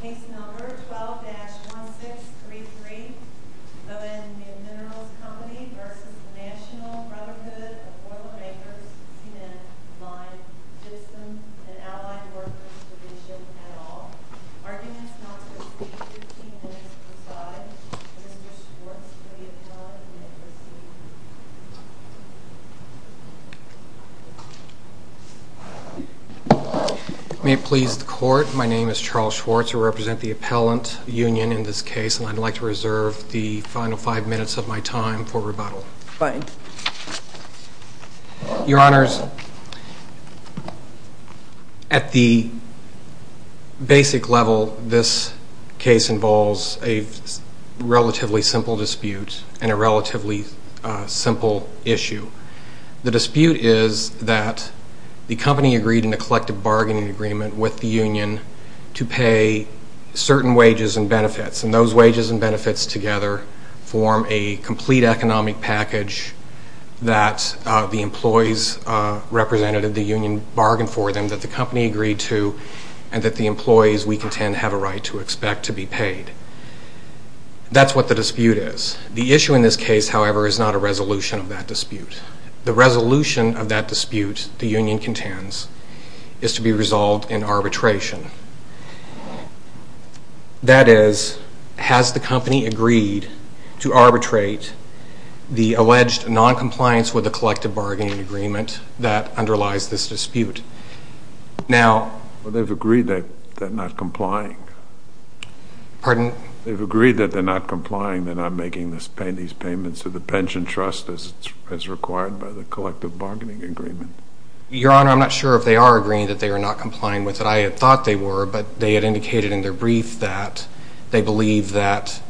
Case number 12-1633, O-N Minerals Co v. Natl Brotherhood of Boilermakers, TN, Lime, Gibson, and Allied Workers, Division, et al. Arguments not to receive 15 minutes per side. Mr. Schwartz will be appelled and may proceed. My name is Charles Schwartz. I represent the appellant union in this case, and I'd like to reserve the final five minutes of my time for rebuttal. Your Honors, at the basic level, this case involves a relatively simple dispute and a relatively simple issue. The dispute is that the company agreed in a collective bargaining agreement with the union to pay certain wages and benefits, and those wages and benefits together form a complete economic package that the employees represented at the union bargained for them, that the company agreed to, and that the employees, we contend, have a right to expect to be paid. That's what the dispute is. The issue in this case, however, is not a resolution of that dispute. The resolution of that dispute, the union contends, is to be resolved in arbitration. That is, has the company agreed to arbitrate the alleged noncompliance with the collective bargaining agreement that underlies this dispute? Well, they've agreed that they're not complying. Pardon? They've agreed that they're not complying, they're not making these payments to the pension trust as required by the collective bargaining agreement. Your Honor, I'm not sure if they are agreeing that they are not complying with it. I had thought they were, but they had indicated in their brief that they believe that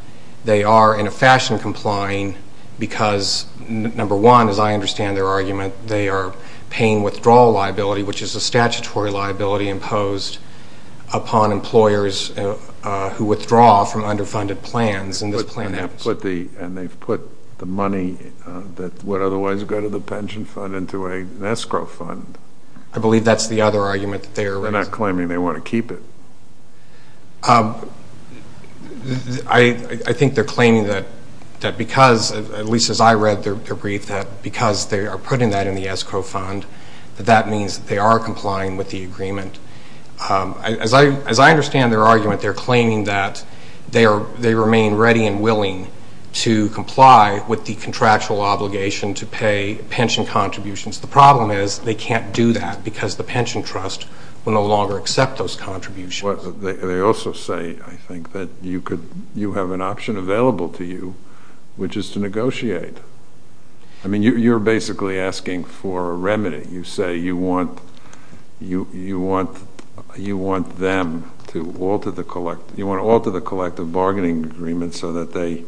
they are, in a fashion, complying because, number one, as I understand their argument, they are paying withdrawal liability, which is a statutory liability imposed upon employers who withdraw from underfunded plans in this plan. And they've put the money that would otherwise go to the pension fund into an escrow fund. I believe that's the other argument that they are raising. They're not claiming they want to keep it. I think they're claiming that because, at least as I read their brief, that because they are putting that in the escrow fund, that that means they are complying with the agreement. As I understand their argument, they're claiming that they remain ready and willing to comply with the contractual obligation to pay pension contributions. The problem is they can't do that because the pension trust will no longer accept those contributions. They also say, I think, that you have an option available to you, which is to negotiate. I mean, you're basically asking for a remedy. You say you want them to alter the collective bargaining agreement so that they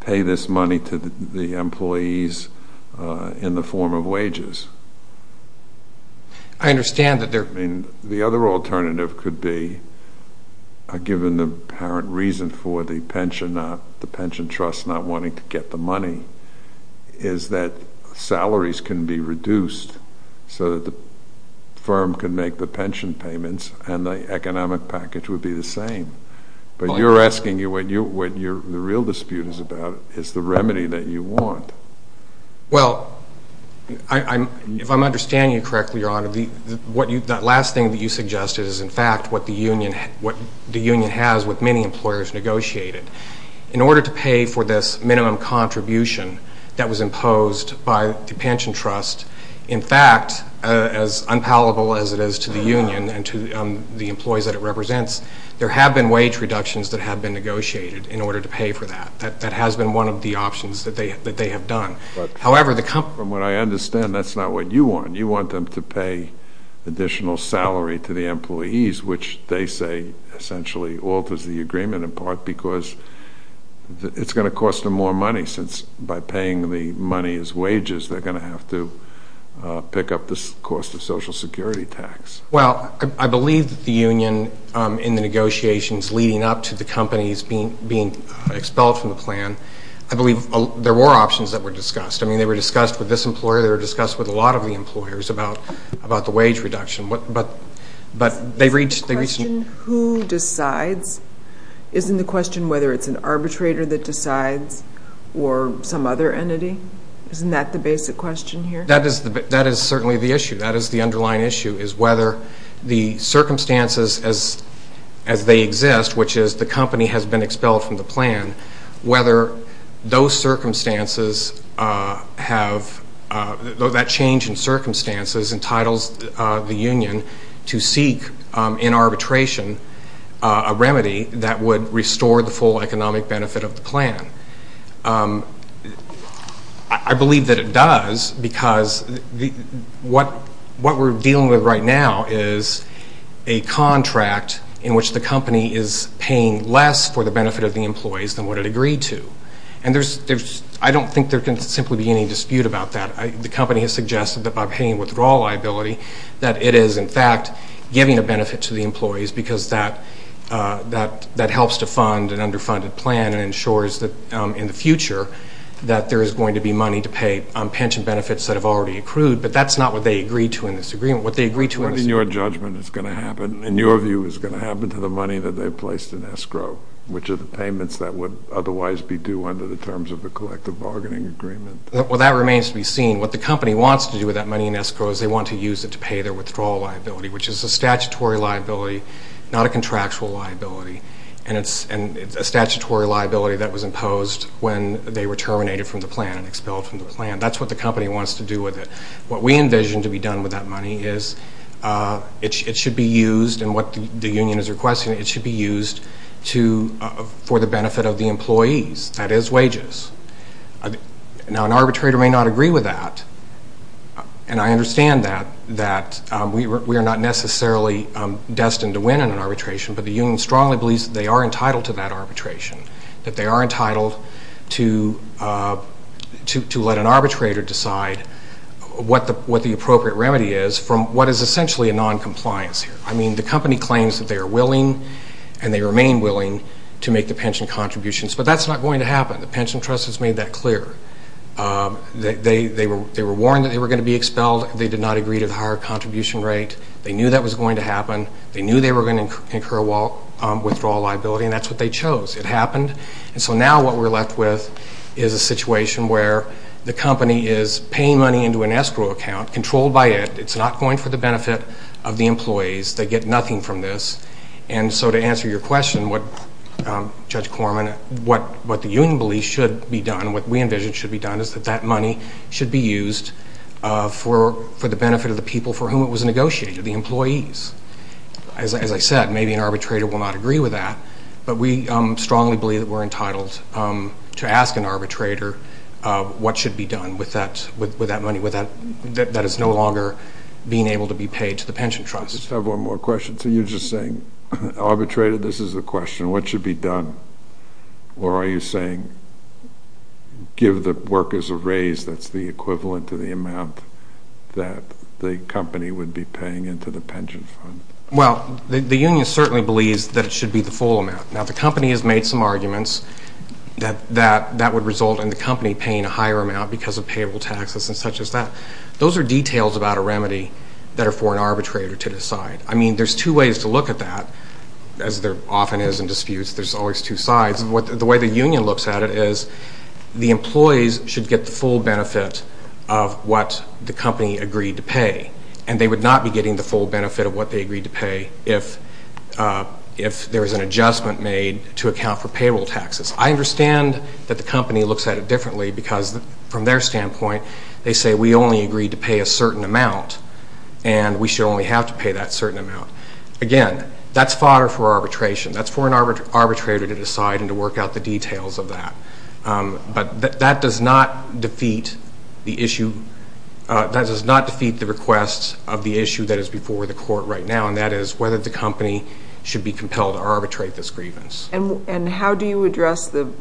pay this money to the employees in the form of wages. I understand that there... I mean, the other alternative could be, given the apparent reason for the pension trust not wanting to get the money, is that salaries can be reduced so that the firm can make the pension payments and the economic package would be the same. But you're asking, what the real dispute is about is the remedy that you want. Well, if I'm understanding you correctly, Your Honor, that last thing that you suggested is, in fact, what the union has with many employers negotiated. In order to pay for this minimum contribution that was imposed by the pension trust, in fact, as unpalatable as it is to the union and to the employees that it represents, there have been wage reductions that have been negotiated in order to pay for that. That has been one of the options that they have done. However, the company... From what I understand, that's not what you want. You want them to pay additional salary to the employees, which they say essentially alters the agreement, in part because it's going to cost them more money since, by paying the money as wages, they're going to have to pick up the cost of Social Security tax. Well, I believe that the union in the negotiations leading up to the companies being expelled from the plan, I believe there were options that were discussed. I mean, they were discussed with this employer. They were discussed with a lot of the employers about the wage reduction. But they reached... Isn't the question who decides? Isn't the question whether it's an arbitrator that decides or some other entity? Isn't that the basic question here? That is certainly the issue. That is the underlying issue, is whether the circumstances as they exist, which is the company has been expelled from the plan, whether those circumstances have... That change in circumstances entitles the union to seek, in arbitration, a remedy that would restore the full economic benefit of the plan. I believe that it does because what we're dealing with right now is a contract in which the company is paying less for the benefit of the employees than what it agreed to. And I don't think there can simply be any dispute about that. The company has suggested that by paying withdrawal liability that it is, in fact, giving a benefit to the employees because that helps to fund an underfunded plan and ensures that in the future that there is going to be money to pay on pension benefits that have already accrued. But that's not what they agreed to in this agreement. What they agreed to in this agreement... What, in your judgment, is going to happen, in your view, is going to happen to the money that they placed in escrow, which are the payments that would otherwise be due under the terms of the collective bargaining agreement? Well, that remains to be seen. What the company wants to do with that money in escrow is they want to use it to pay their withdrawal liability, which is a statutory liability, not a contractual liability. And it's a statutory liability that was imposed when they were terminated from the plan and expelled from the plan. That's what the company wants to do with it. What we envision to be done with that money is it should be used, and what the union is requesting, it should be used for the benefit of the employees. That is wages. Now, an arbitrator may not agree with that. And I understand that, that we are not necessarily destined to win in an arbitration, but the union strongly believes that they are entitled to that arbitration, that they are entitled to let an arbitrator decide what the appropriate remedy is from what is essentially a noncompliance here. I mean, the company claims that they are willing and they remain willing to make the pension contributions, but that's not going to happen. The pension trust has made that clear. They were warned that they were going to be expelled. They knew that was going to happen. They knew they were going to incur withdrawal liability, and that's what they chose. It happened. And so now what we're left with is a situation where the company is paying money into an escrow account, controlled by it. It's not going for the benefit of the employees. They get nothing from this. And so to answer your question, Judge Corman, what the union believes should be done, what we envision should be done is that that money should be used for the benefit of the people for whom it was negotiated, the employees. As I said, maybe an arbitrator will not agree with that, but we strongly believe that we're entitled to ask an arbitrator what should be done with that money that is no longer being able to be paid to the pension trust. I just have one more question. So you're just saying, arbitrator, this is a question, what should be done? Or are you saying give the workers a raise that's the equivalent to the amount that the company would be paying into the pension fund? Well, the union certainly believes that it should be the full amount. Now, the company has made some arguments that that would result in the company paying a higher amount because of payable taxes and such as that. Those are details about a remedy that are for an arbitrator to decide. I mean, there's two ways to look at that. As there often is in disputes, there's always two sides. The way the union looks at it is the employees should get the full benefit of what the company agreed to pay, and they would not be getting the full benefit of what they agreed to pay if there was an adjustment made to account for payable taxes. I understand that the company looks at it differently because from their standpoint, they say we only agreed to pay a certain amount, and we should only have to pay that certain amount. Again, that's fodder for arbitration. That's for an arbitrator to decide and to work out the details of that. But that does not defeat the request of the issue that is before the court right now, and that is whether the company should be compelled to arbitrate this grievance. And how do you address the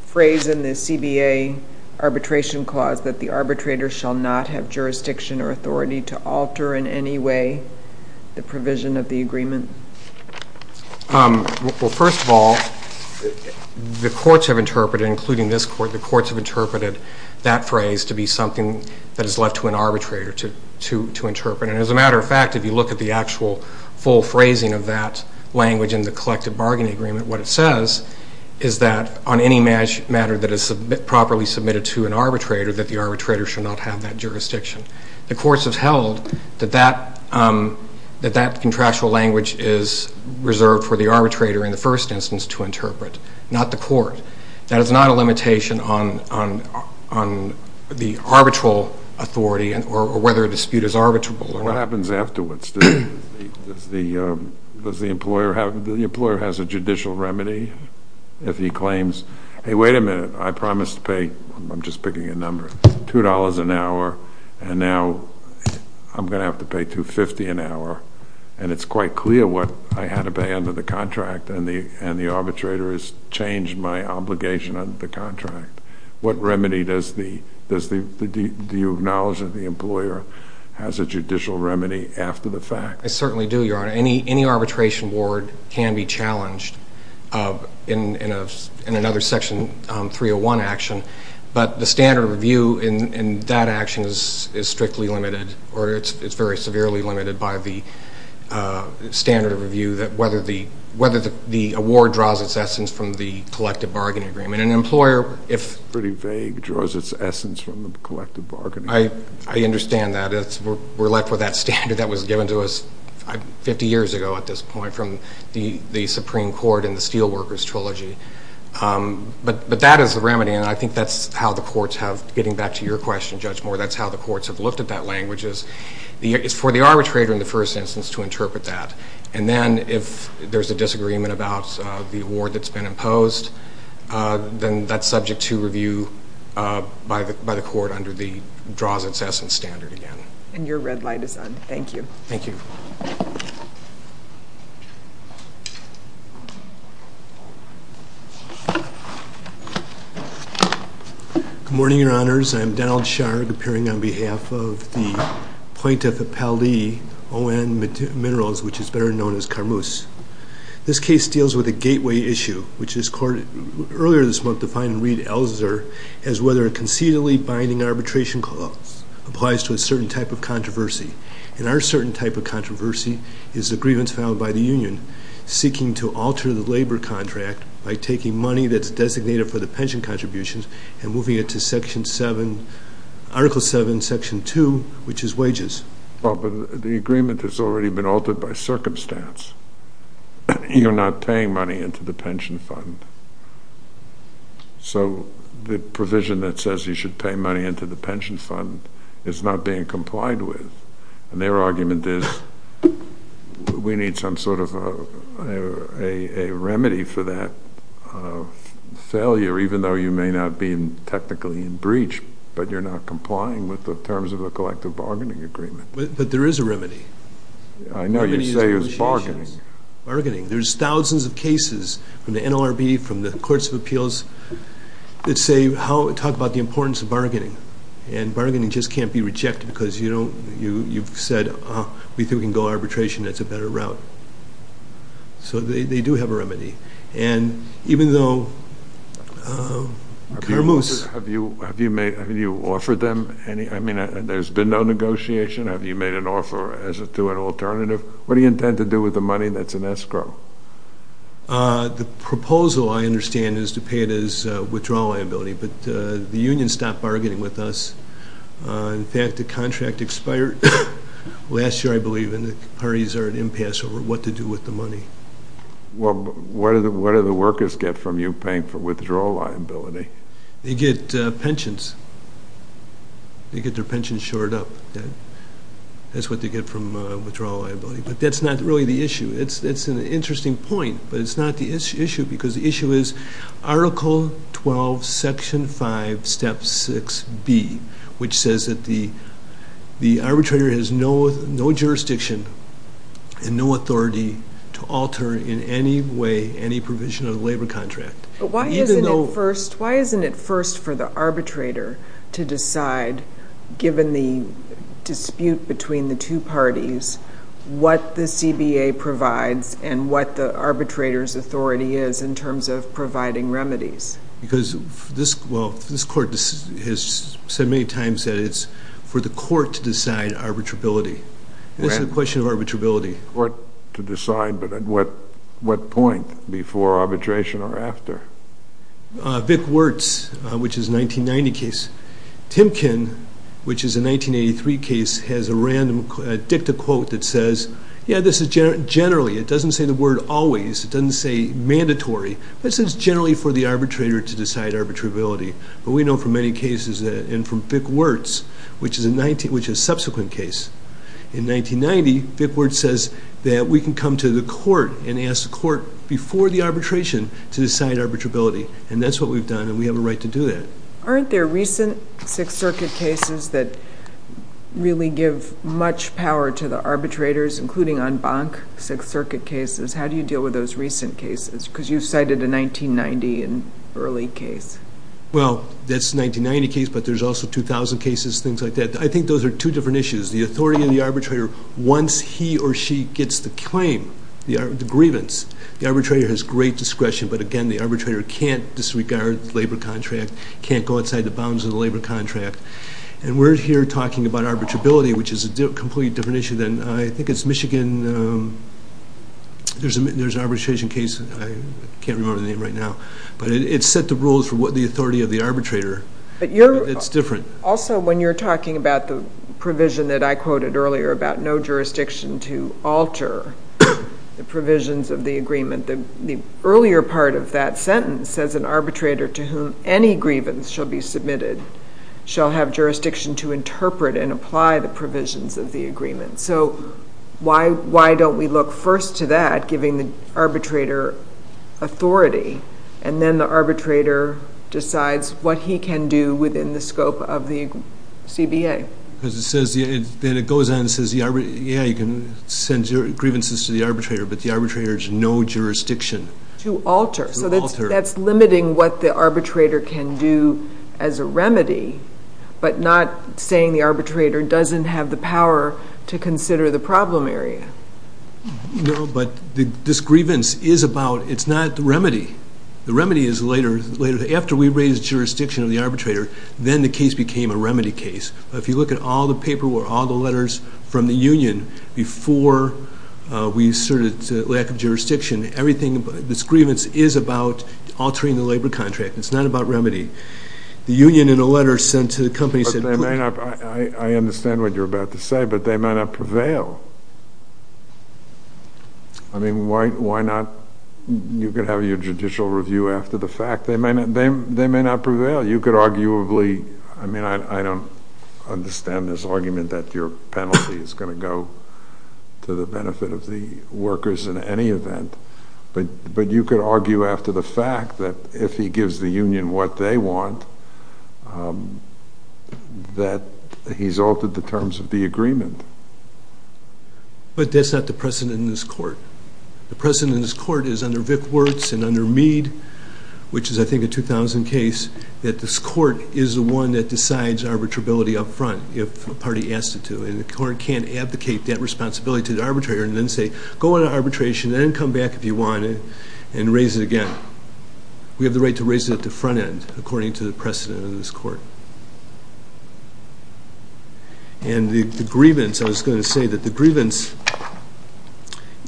phrase in the CBA arbitration clause that the arbitrator shall not have jurisdiction or authority to alter in any way the provision of the agreement? Well, first of all, the courts have interpreted, including this court, the courts have interpreted that phrase to be something that is left to an arbitrator to interpret. And as a matter of fact, if you look at the actual full phrasing of that language in the collective bargaining agreement, what it says is that on any matter that is properly submitted to an arbitrator, that the arbitrator should not have that jurisdiction. The courts have held that that contractual language is reserved for the arbitrator in the first instance to interpret, not the court. That is not a limitation on the arbitral authority or whether a dispute is arbitrable. What happens afterwards? Does the employer have a judicial remedy if he claims, hey, wait a minute, I promised to pay, I'm just picking a number, $2 an hour, and now I'm going to have to pay $2.50 an hour. And it's quite clear what I had to pay under the contract, and the arbitrator has changed my obligation under the contract. What remedy does the, do you acknowledge that the employer has a judicial remedy after the fact? I certainly do, Your Honor. Any arbitration ward can be challenged in another Section 301 action, but the standard of review in that action is strictly limited, or it's very severely limited by the standard of review that whether the award draws its essence from the collective bargaining agreement. An employer, if- Pretty vague, draws its essence from the collective bargaining agreement. I understand that. We're left with that standard that was given to us 50 years ago at this point from the Supreme Court in the Steelworkers Trilogy. But that is the remedy, and I think that's how the courts have, getting back to your question, Judge Moore, that's how the courts have looked at that language, is for the arbitrator in the first instance to interpret that. And then if there's a disagreement about the award that's been imposed, then that's subject to review by the court under the draws its essence standard again. And your red light is on. Thank you. Thank you. Good morning, Your Honors. I'm Donald Sharg, appearing on behalf of the plaintiff at Paldee, O.N. Minerals, which is better known as Carmuse. This case deals with a gateway issue, which this court earlier this month defined in Reid-Elzer as whether a concededly binding arbitration clause applies to a certain type of controversy. And our certain type of controversy is the grievance filed by the union, seeking to alter the labor contract by taking money that's designated for the pension contributions and moving it to Article 7, Section 2, which is wages. The agreement has already been altered by circumstance. You're not paying money into the pension fund. So the provision that says you should pay money into the pension fund is not being complied with. And their argument is we need some sort of a remedy for that failure, but you're not complying with the terms of the collective bargaining agreement. But there is a remedy. I know you say it's bargaining. Bargaining. There's thousands of cases from the NLRB, from the Courts of Appeals, that talk about the importance of bargaining. And bargaining just can't be rejected because you've said we think we can go arbitration. That's a better route. So they do have a remedy. And even though Carmus. Have you offered them any? I mean, there's been no negotiation. Have you made an offer as to an alternative? What do you intend to do with the money that's in escrow? The proposal, I understand, is to pay it as withdrawal liability, but the union stopped bargaining with us. In fact, the contract expired last year, I believe, and the parties are at impasse over what to do with the money. Well, what do the workers get from you paying for withdrawal liability? They get pensions. They get their pensions shored up. That's what they get from withdrawal liability. But that's not really the issue. It's an interesting point, but it's not the issue because the issue is Article 12, Section 5, Step 6B, which says that the arbitrator has no jurisdiction and no authority to alter in any way any provision of the labor contract. But why isn't it first for the arbitrator to decide, given the dispute between the two parties, what the CBA provides and what the arbitrator's authority is in terms of providing remedies? Because this court has said many times that it's for the court to decide arbitrability. It's a question of arbitrability. The court to decide, but at what point before arbitration or after? Vic Wertz, which is a 1990 case. Timkin, which is a 1983 case, has a random dicta quote that says, yeah, this is generally. It doesn't say the word always. It doesn't say mandatory. This is generally for the arbitrator to decide arbitrability. But we know from many cases and from Vic Wertz, which is a subsequent case, in 1990, Vic Wertz says that we can come to the court and ask the court before the arbitration to decide arbitrability, and that's what we've done, and we have a right to do that. Aren't there recent Sixth Circuit cases that really give much power to the arbitrators, including en banc Sixth Circuit cases? How do you deal with those recent cases? Because you cited a 1990 early case. Well, that's a 1990 case, but there's also 2000 cases, things like that. I think those are two different issues. The authority of the arbitrator, once he or she gets the claim, the grievance, the arbitrator has great discretion, but, again, the arbitrator can't disregard the labor contract, can't go outside the bounds of the labor contract, and we're here talking about arbitrability, which is a completely different issue than I think it's Michigan. There's an arbitration case. I can't remember the name right now, but it set the rules for the authority of the arbitrator. It's different. Also, when you're talking about the provision that I quoted earlier about no jurisdiction to alter the provisions of the agreement, the earlier part of that sentence says an arbitrator to whom any grievance shall be submitted shall have jurisdiction to interpret and apply the provisions of the agreement. So why don't we look first to that, giving the arbitrator authority, and then the arbitrator decides what he can do within the scope of the CBA? Then it goes on and says, yeah, you can send grievances to the arbitrator, but the arbitrator has no jurisdiction. To alter. To alter. So that's limiting what the arbitrator can do as a remedy, but not saying the arbitrator doesn't have the power to consider the problem area. No, but this grievance is about, it's not the remedy. The remedy is later. After we raised jurisdiction of the arbitrator, then the case became a remedy case. If you look at all the paperwork, all the letters from the union before we asserted lack of jurisdiction, this grievance is about altering the labor contract. It's not about remedy. The union in a letter sent to the company said- I understand what you're about to say, but they might not prevail. I mean, why not? You could have your judicial review after the fact. They may not prevail. You could arguably, I mean, I don't understand this argument that your penalty is going to go to the benefit of the workers in any event, but you could argue after the fact that if he gives the union what they want, that he's altered the terms of the agreement. But that's not the precedent in this court. The precedent in this court is under Vic Wertz and under Mead, which is, I think, a 2000 case, that this court is the one that decides arbitrability up front if a party asks it to, and the court can't abdicate that responsibility to the arbitrator and then say, go into arbitration and then come back if you want and raise it again. We have the right to raise it at the front end, according to the precedent in this court. And the grievance, I was going to say that the grievance,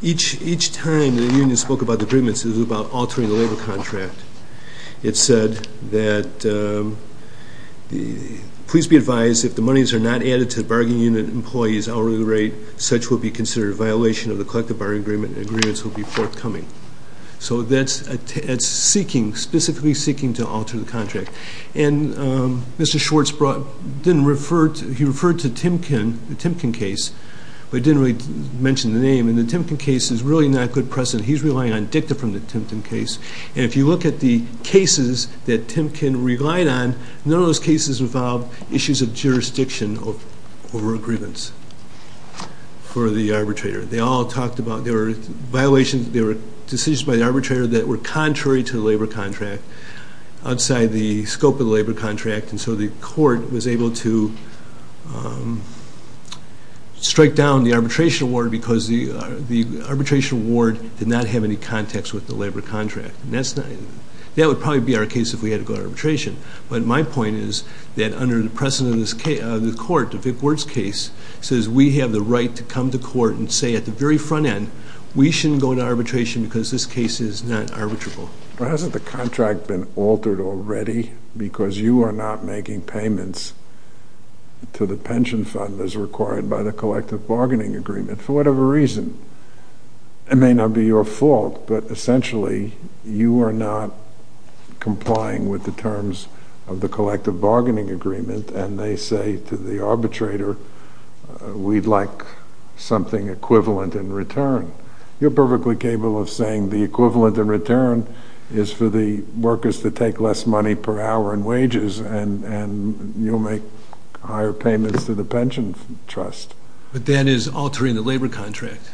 each time the union spoke about the grievance, it was about altering the labor contract. It said that, please be advised, if the monies are not added to the bargaining unit employees hourly rate, such will be considered a violation of the collective bargaining agreement and agreements will be forthcoming. So that's seeking, specifically seeking to alter the contract. And Mr. Schwartz brought, didn't refer, he referred to Timken, the Timken case, but didn't really mention the name. And the Timken case is really not a good precedent. He's relying on dicta from the Timken case. And if you look at the cases that Timken relied on, none of those cases involved issues of jurisdiction over a grievance for the arbitrator. They all talked about, there were violations, there were decisions by the arbitrator that were contrary to the labor contract, outside the scope of the labor contract. And so the court was able to strike down the arbitration award because the arbitration award did not have any context with the labor contract. That would probably be our case if we had to go to arbitration. But my point is that under the precedent of the court, the Vic Wirtz case, says we have the right to come to court and say at the very front end, we shouldn't go to arbitration because this case is not arbitrable. Well, hasn't the contract been altered already? Because you are not making payments to the pension fund as required by the collective bargaining agreement, for whatever reason. It may not be your fault, but essentially, you are not complying with the terms of the collective bargaining agreement, and they say to the arbitrator, we'd like something equivalent in return. You're perfectly capable of saying the equivalent in return is for the workers to take less money per hour in wages, and you'll make higher payments to the pension trust. But that is altering the labor contract.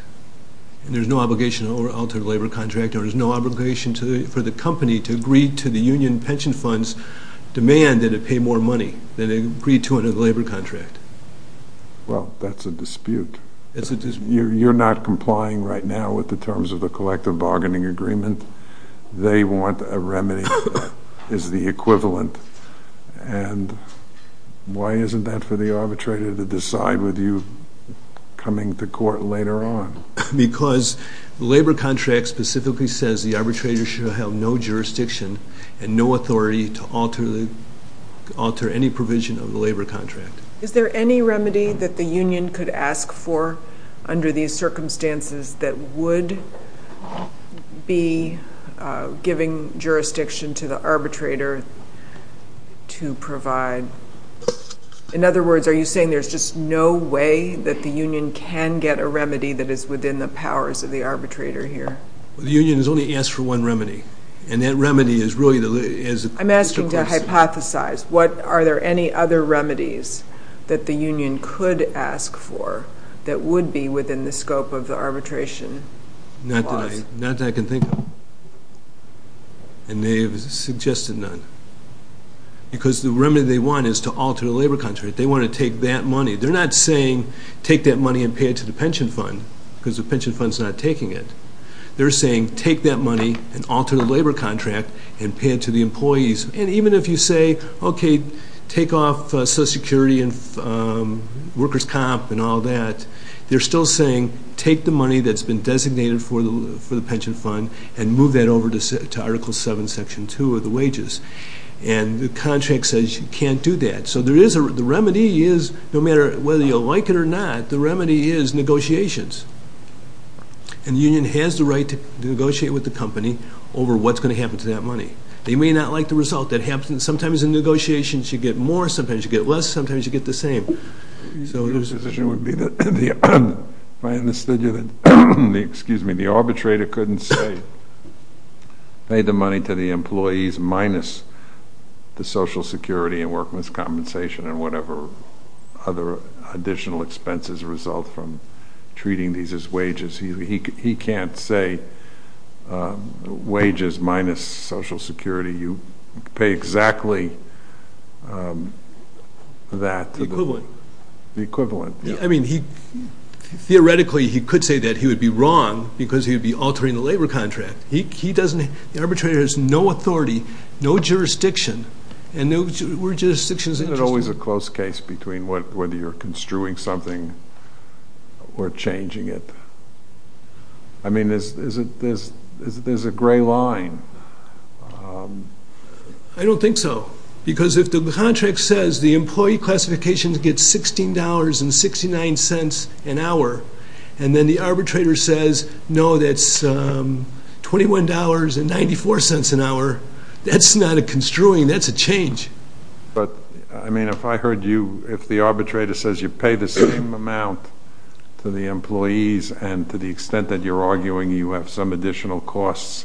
And there's no obligation to alter the labor contract, or there's no obligation for the company to agree to the union pension fund's demand that it pay more money than it agreed to under the labor contract. Well, that's a dispute. You're not complying right now with the terms of the collective bargaining agreement. They want a remedy that is the equivalent. And why isn't that for the arbitrator to decide with you coming to court later on? Because the labor contract specifically says the arbitrator should have no jurisdiction and no authority to alter any provision of the labor contract. Is there any remedy that the union could ask for under these circumstances that would be giving jurisdiction to the arbitrator to provide? In other words, are you saying there's just no way that the union can get a remedy that is within the powers of the arbitrator here? The union has only asked for one remedy, and that remedy is really the question. I'm asking to hypothesize. Are there any other remedies that the union could ask for that would be within the scope of the arbitration clause? Not that I can think of. And they have suggested none. Because the remedy they want is to alter the labor contract. They want to take that money. They're not saying take that money and pay it to the pension fund because the pension fund's not taking it. They're saying take that money and alter the labor contract and pay it to the employees. And even if you say, okay, take off Social Security and workers' comp and all that, they're still saying take the money that's been designated for the pension fund and move that over to Article 7, Section 2 of the wages. And the contract says you can't do that. So the remedy is, no matter whether you like it or not, the remedy is negotiations. And the union has the right to negotiate with the company over what's going to happen to that money. They may not like the result. Sometimes in negotiations you get more, sometimes you get less, sometimes you get the same. So there's a position would be that if I understood you, the arbitrator couldn't say pay the money to the employees minus the Social Security and workers' compensation and whatever other additional expenses result from treating these as wages. He can't say wages minus Social Security. You pay exactly that. The equivalent. The equivalent. I mean, theoretically he could say that he would be wrong because he would be altering the labor contract. The arbitrator has no authority, no jurisdiction, and no jurisdiction is interested. Isn't it always a close case between whether you're construing something or changing it? I mean, there's a gray line. I don't think so. Because if the contract says the employee classification gets $16.69 an hour and then the arbitrator says, no, that's $21.94 an hour, that's not a construing, that's a change. But, I mean, if I heard you, if the arbitrator says you pay the same amount to the employees and to the extent that you're arguing you have some additional costs,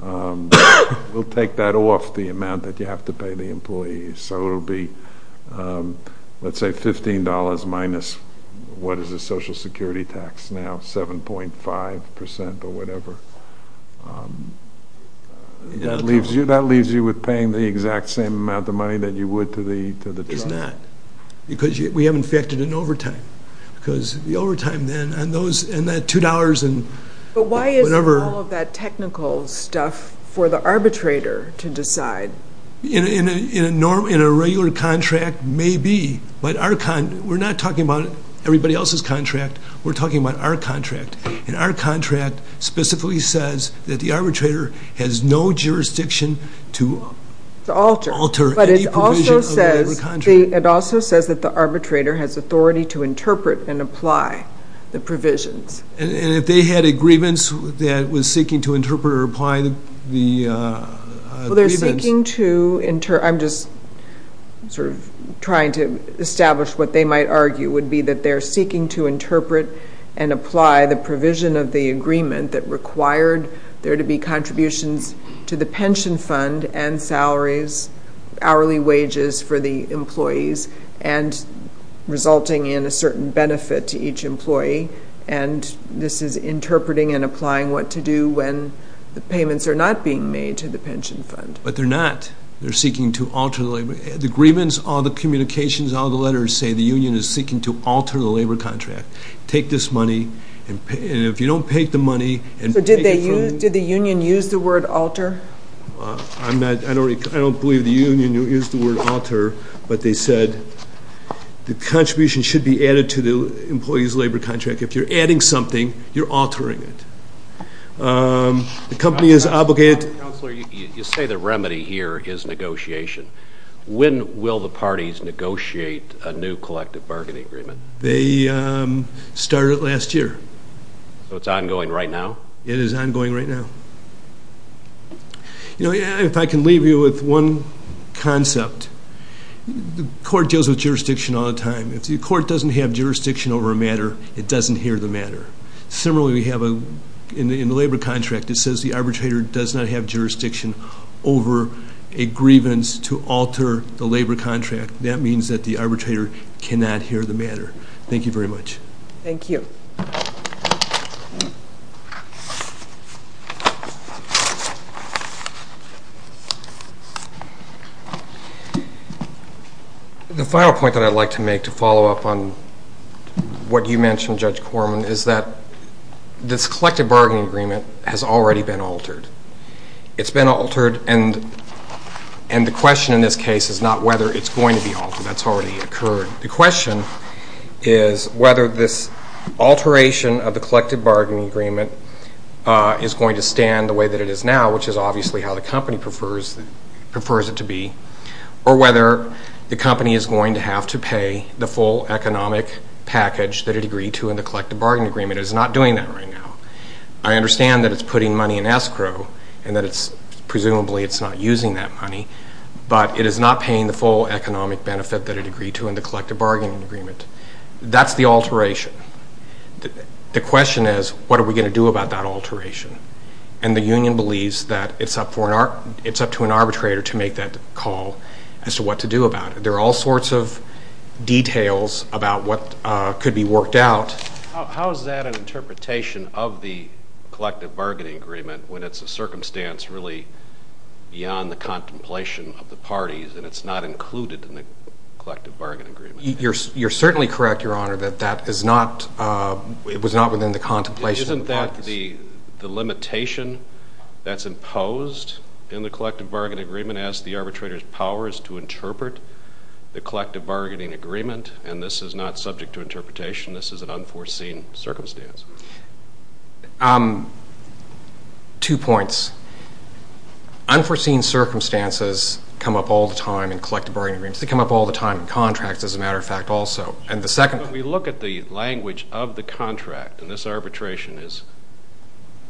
we'll take that off the amount that you have to pay the employees. So it will be, let's say, $15 minus what is the Social Security tax now, 7.5% or whatever. That leaves you with paying the exact same amount of money that you would to the driver. It's not. Because we have infected an overtime. Because the overtime then and that $2 and whatever. But why isn't all of that technical stuff for the arbitrator to decide? In a regular contract, maybe. But we're not talking about everybody else's contract. We're talking about our contract. And our contract specifically says that the arbitrator has no jurisdiction to alter any provision of the contract. But it also says that the arbitrator has authority to interpret and apply the provisions. And if they had a grievance that was seeking to interpret or apply the grievance? Well, they're seeking to, I'm just sort of trying to establish what they might argue, would be that they're seeking to interpret and apply the provision of the agreement that required there to be contributions to the pension fund and salaries, hourly wages for the employees and resulting in a certain benefit to each employee. And this is interpreting and applying what to do when the payments are not being made to the pension fund. But they're not. They're seeking to alter the agreement. All the agreements, all the communications, all the letters say the union is seeking to alter the labor contract. Take this money, and if you don't take the money and take it from... So did the union use the word alter? I don't believe the union used the word alter. But they said the contribution should be added to the employee's labor contract. If you're adding something, you're altering it. The company is obligated to... You say the remedy here is negotiation. When will the parties negotiate a new collective bargaining agreement? They started last year. So it's ongoing right now? It is ongoing right now. If I can leave you with one concept, the court deals with jurisdiction all the time. If the court doesn't have jurisdiction over a matter, it doesn't hear the matter. Similarly, we have in the labor contract, it says the arbitrator does not have jurisdiction over a grievance to alter the labor contract. That means that the arbitrator cannot hear the matter. Thank you very much. Thank you. The final point that I'd like to make to follow up on what you mentioned, Judge Corman, is that this collective bargaining agreement has already been altered. It's been altered, and the question in this case is not whether it's going to be altered. That's already occurred. The question is whether this alteration of the collective bargaining agreement is going to stand the way that it is now, which is obviously how the company prefers it to be, or whether the company is going to have to pay the full economic package that it agreed to in the collective bargaining agreement. It is not doing that right now. I understand that it's putting money in escrow and that it's presumably not using that money, but it is not paying the full economic benefit that it agreed to in the collective bargaining agreement. That's the alteration. The question is what are we going to do about that alteration, and the union believes that it's up to an arbitrator to make that call as to what to do about it. There are all sorts of details about what could be worked out. How is that an interpretation of the collective bargaining agreement when it's a circumstance really beyond the contemplation of the parties and it's not included in the collective bargaining agreement? You're certainly correct, Your Honor, that that was not within the contemplation of the parties. Isn't that the limitation that's imposed in the collective bargaining agreement as the arbitrator's power is to interpret the collective bargaining agreement, and this is not subject to interpretation? This is an unforeseen circumstance. Two points. Unforeseen circumstances come up all the time in collective bargaining agreements. They come up all the time in contracts, as a matter of fact, also. When we look at the language of the contract, and this arbitration is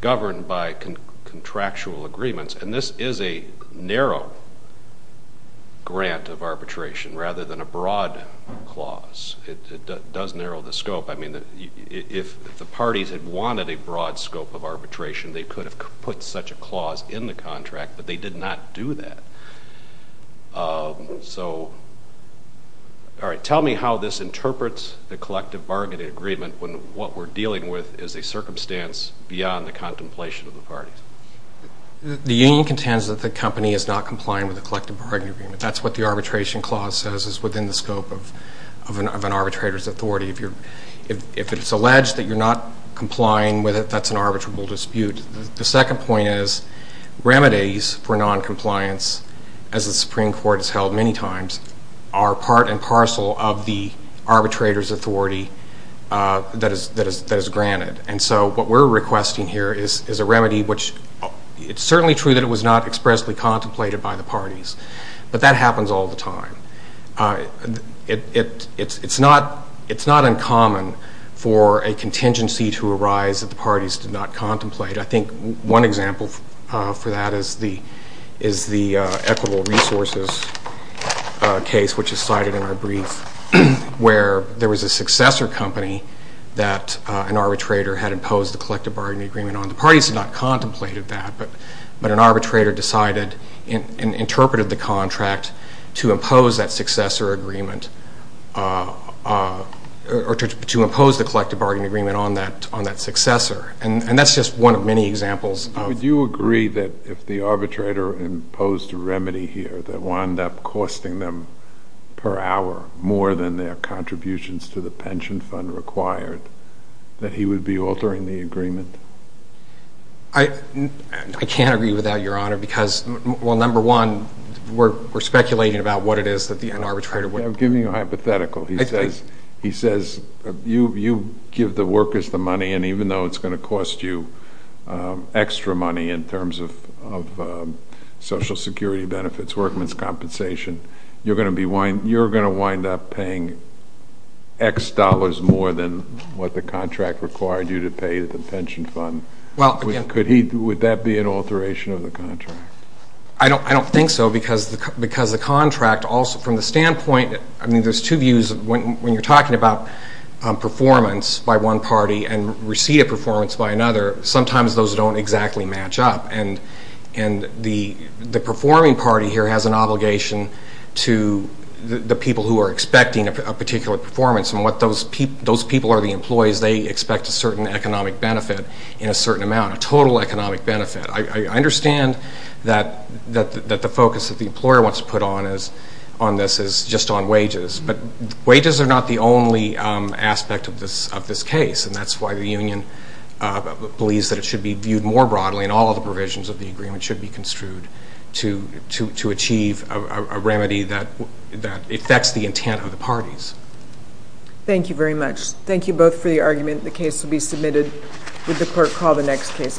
governed by contractual agreements, and this is a narrow grant of arbitration rather than a broad clause. It does narrow the scope. If the parties had wanted a broad scope of arbitration, they could have put such a clause in the contract, but they did not do that. Tell me how this interprets the collective bargaining agreement when what we're dealing with is a circumstance beyond the contemplation of the parties. The union contends that the company is not compliant with the collective bargaining agreement. That's what the arbitration clause says is within the scope of an arbitrator's authority. If it's alleged that you're not complying with it, that's an arbitrable dispute. The second point is remedies for noncompliance, as the Supreme Court has held many times, are part and parcel of the arbitrator's authority that is granted. And so what we're requesting here is a remedy, which it's certainly true that it was not expressly contemplated by the parties, but that happens all the time. It's not uncommon for a contingency to arise that the parties did not contemplate. I think one example for that is the equitable resources case, which is cited in our brief, where there was a successor company that an arbitrator had imposed the collective bargaining agreement on. The parties had not contemplated that, but an arbitrator decided and interpreted the contract to impose that successor agreement or to impose the collective bargaining agreement on that successor. And that's just one of many examples. Would you agree that if the arbitrator imposed a remedy here that wound up costing them per hour more than their contributions to the pension fund required, that he would be altering the agreement? I can't agree with that, Your Honor, because, well, number one, we're speculating about what it is that the arbitrator would do. I'm giving you a hypothetical. He says you give the workers the money, and even though it's going to cost you extra money in terms of Social Security benefits, workman's compensation, you're going to wind up paying X dollars more than what the contract required you to pay the pension fund. Would that be an alteration of the contract? I don't think so, because the contract also, from the standpoint, I mean, there's two views. When you're talking about performance by one party and receipt of performance by another, sometimes those don't exactly match up. And the performing party here has an obligation to the people who are expecting a particular performance, and what those people are the employees, they expect a certain economic benefit in a certain amount, a total economic benefit. I understand that the focus that the employer wants to put on this is just on wages, but wages are not the only aspect of this case, and that's why the union believes that it should be viewed more broadly and all of the provisions of the agreement should be construed to achieve a remedy that affects the intent of the parties. Thank you very much. Thank you both for the argument. The case will be submitted. Would the clerk call the next case, please?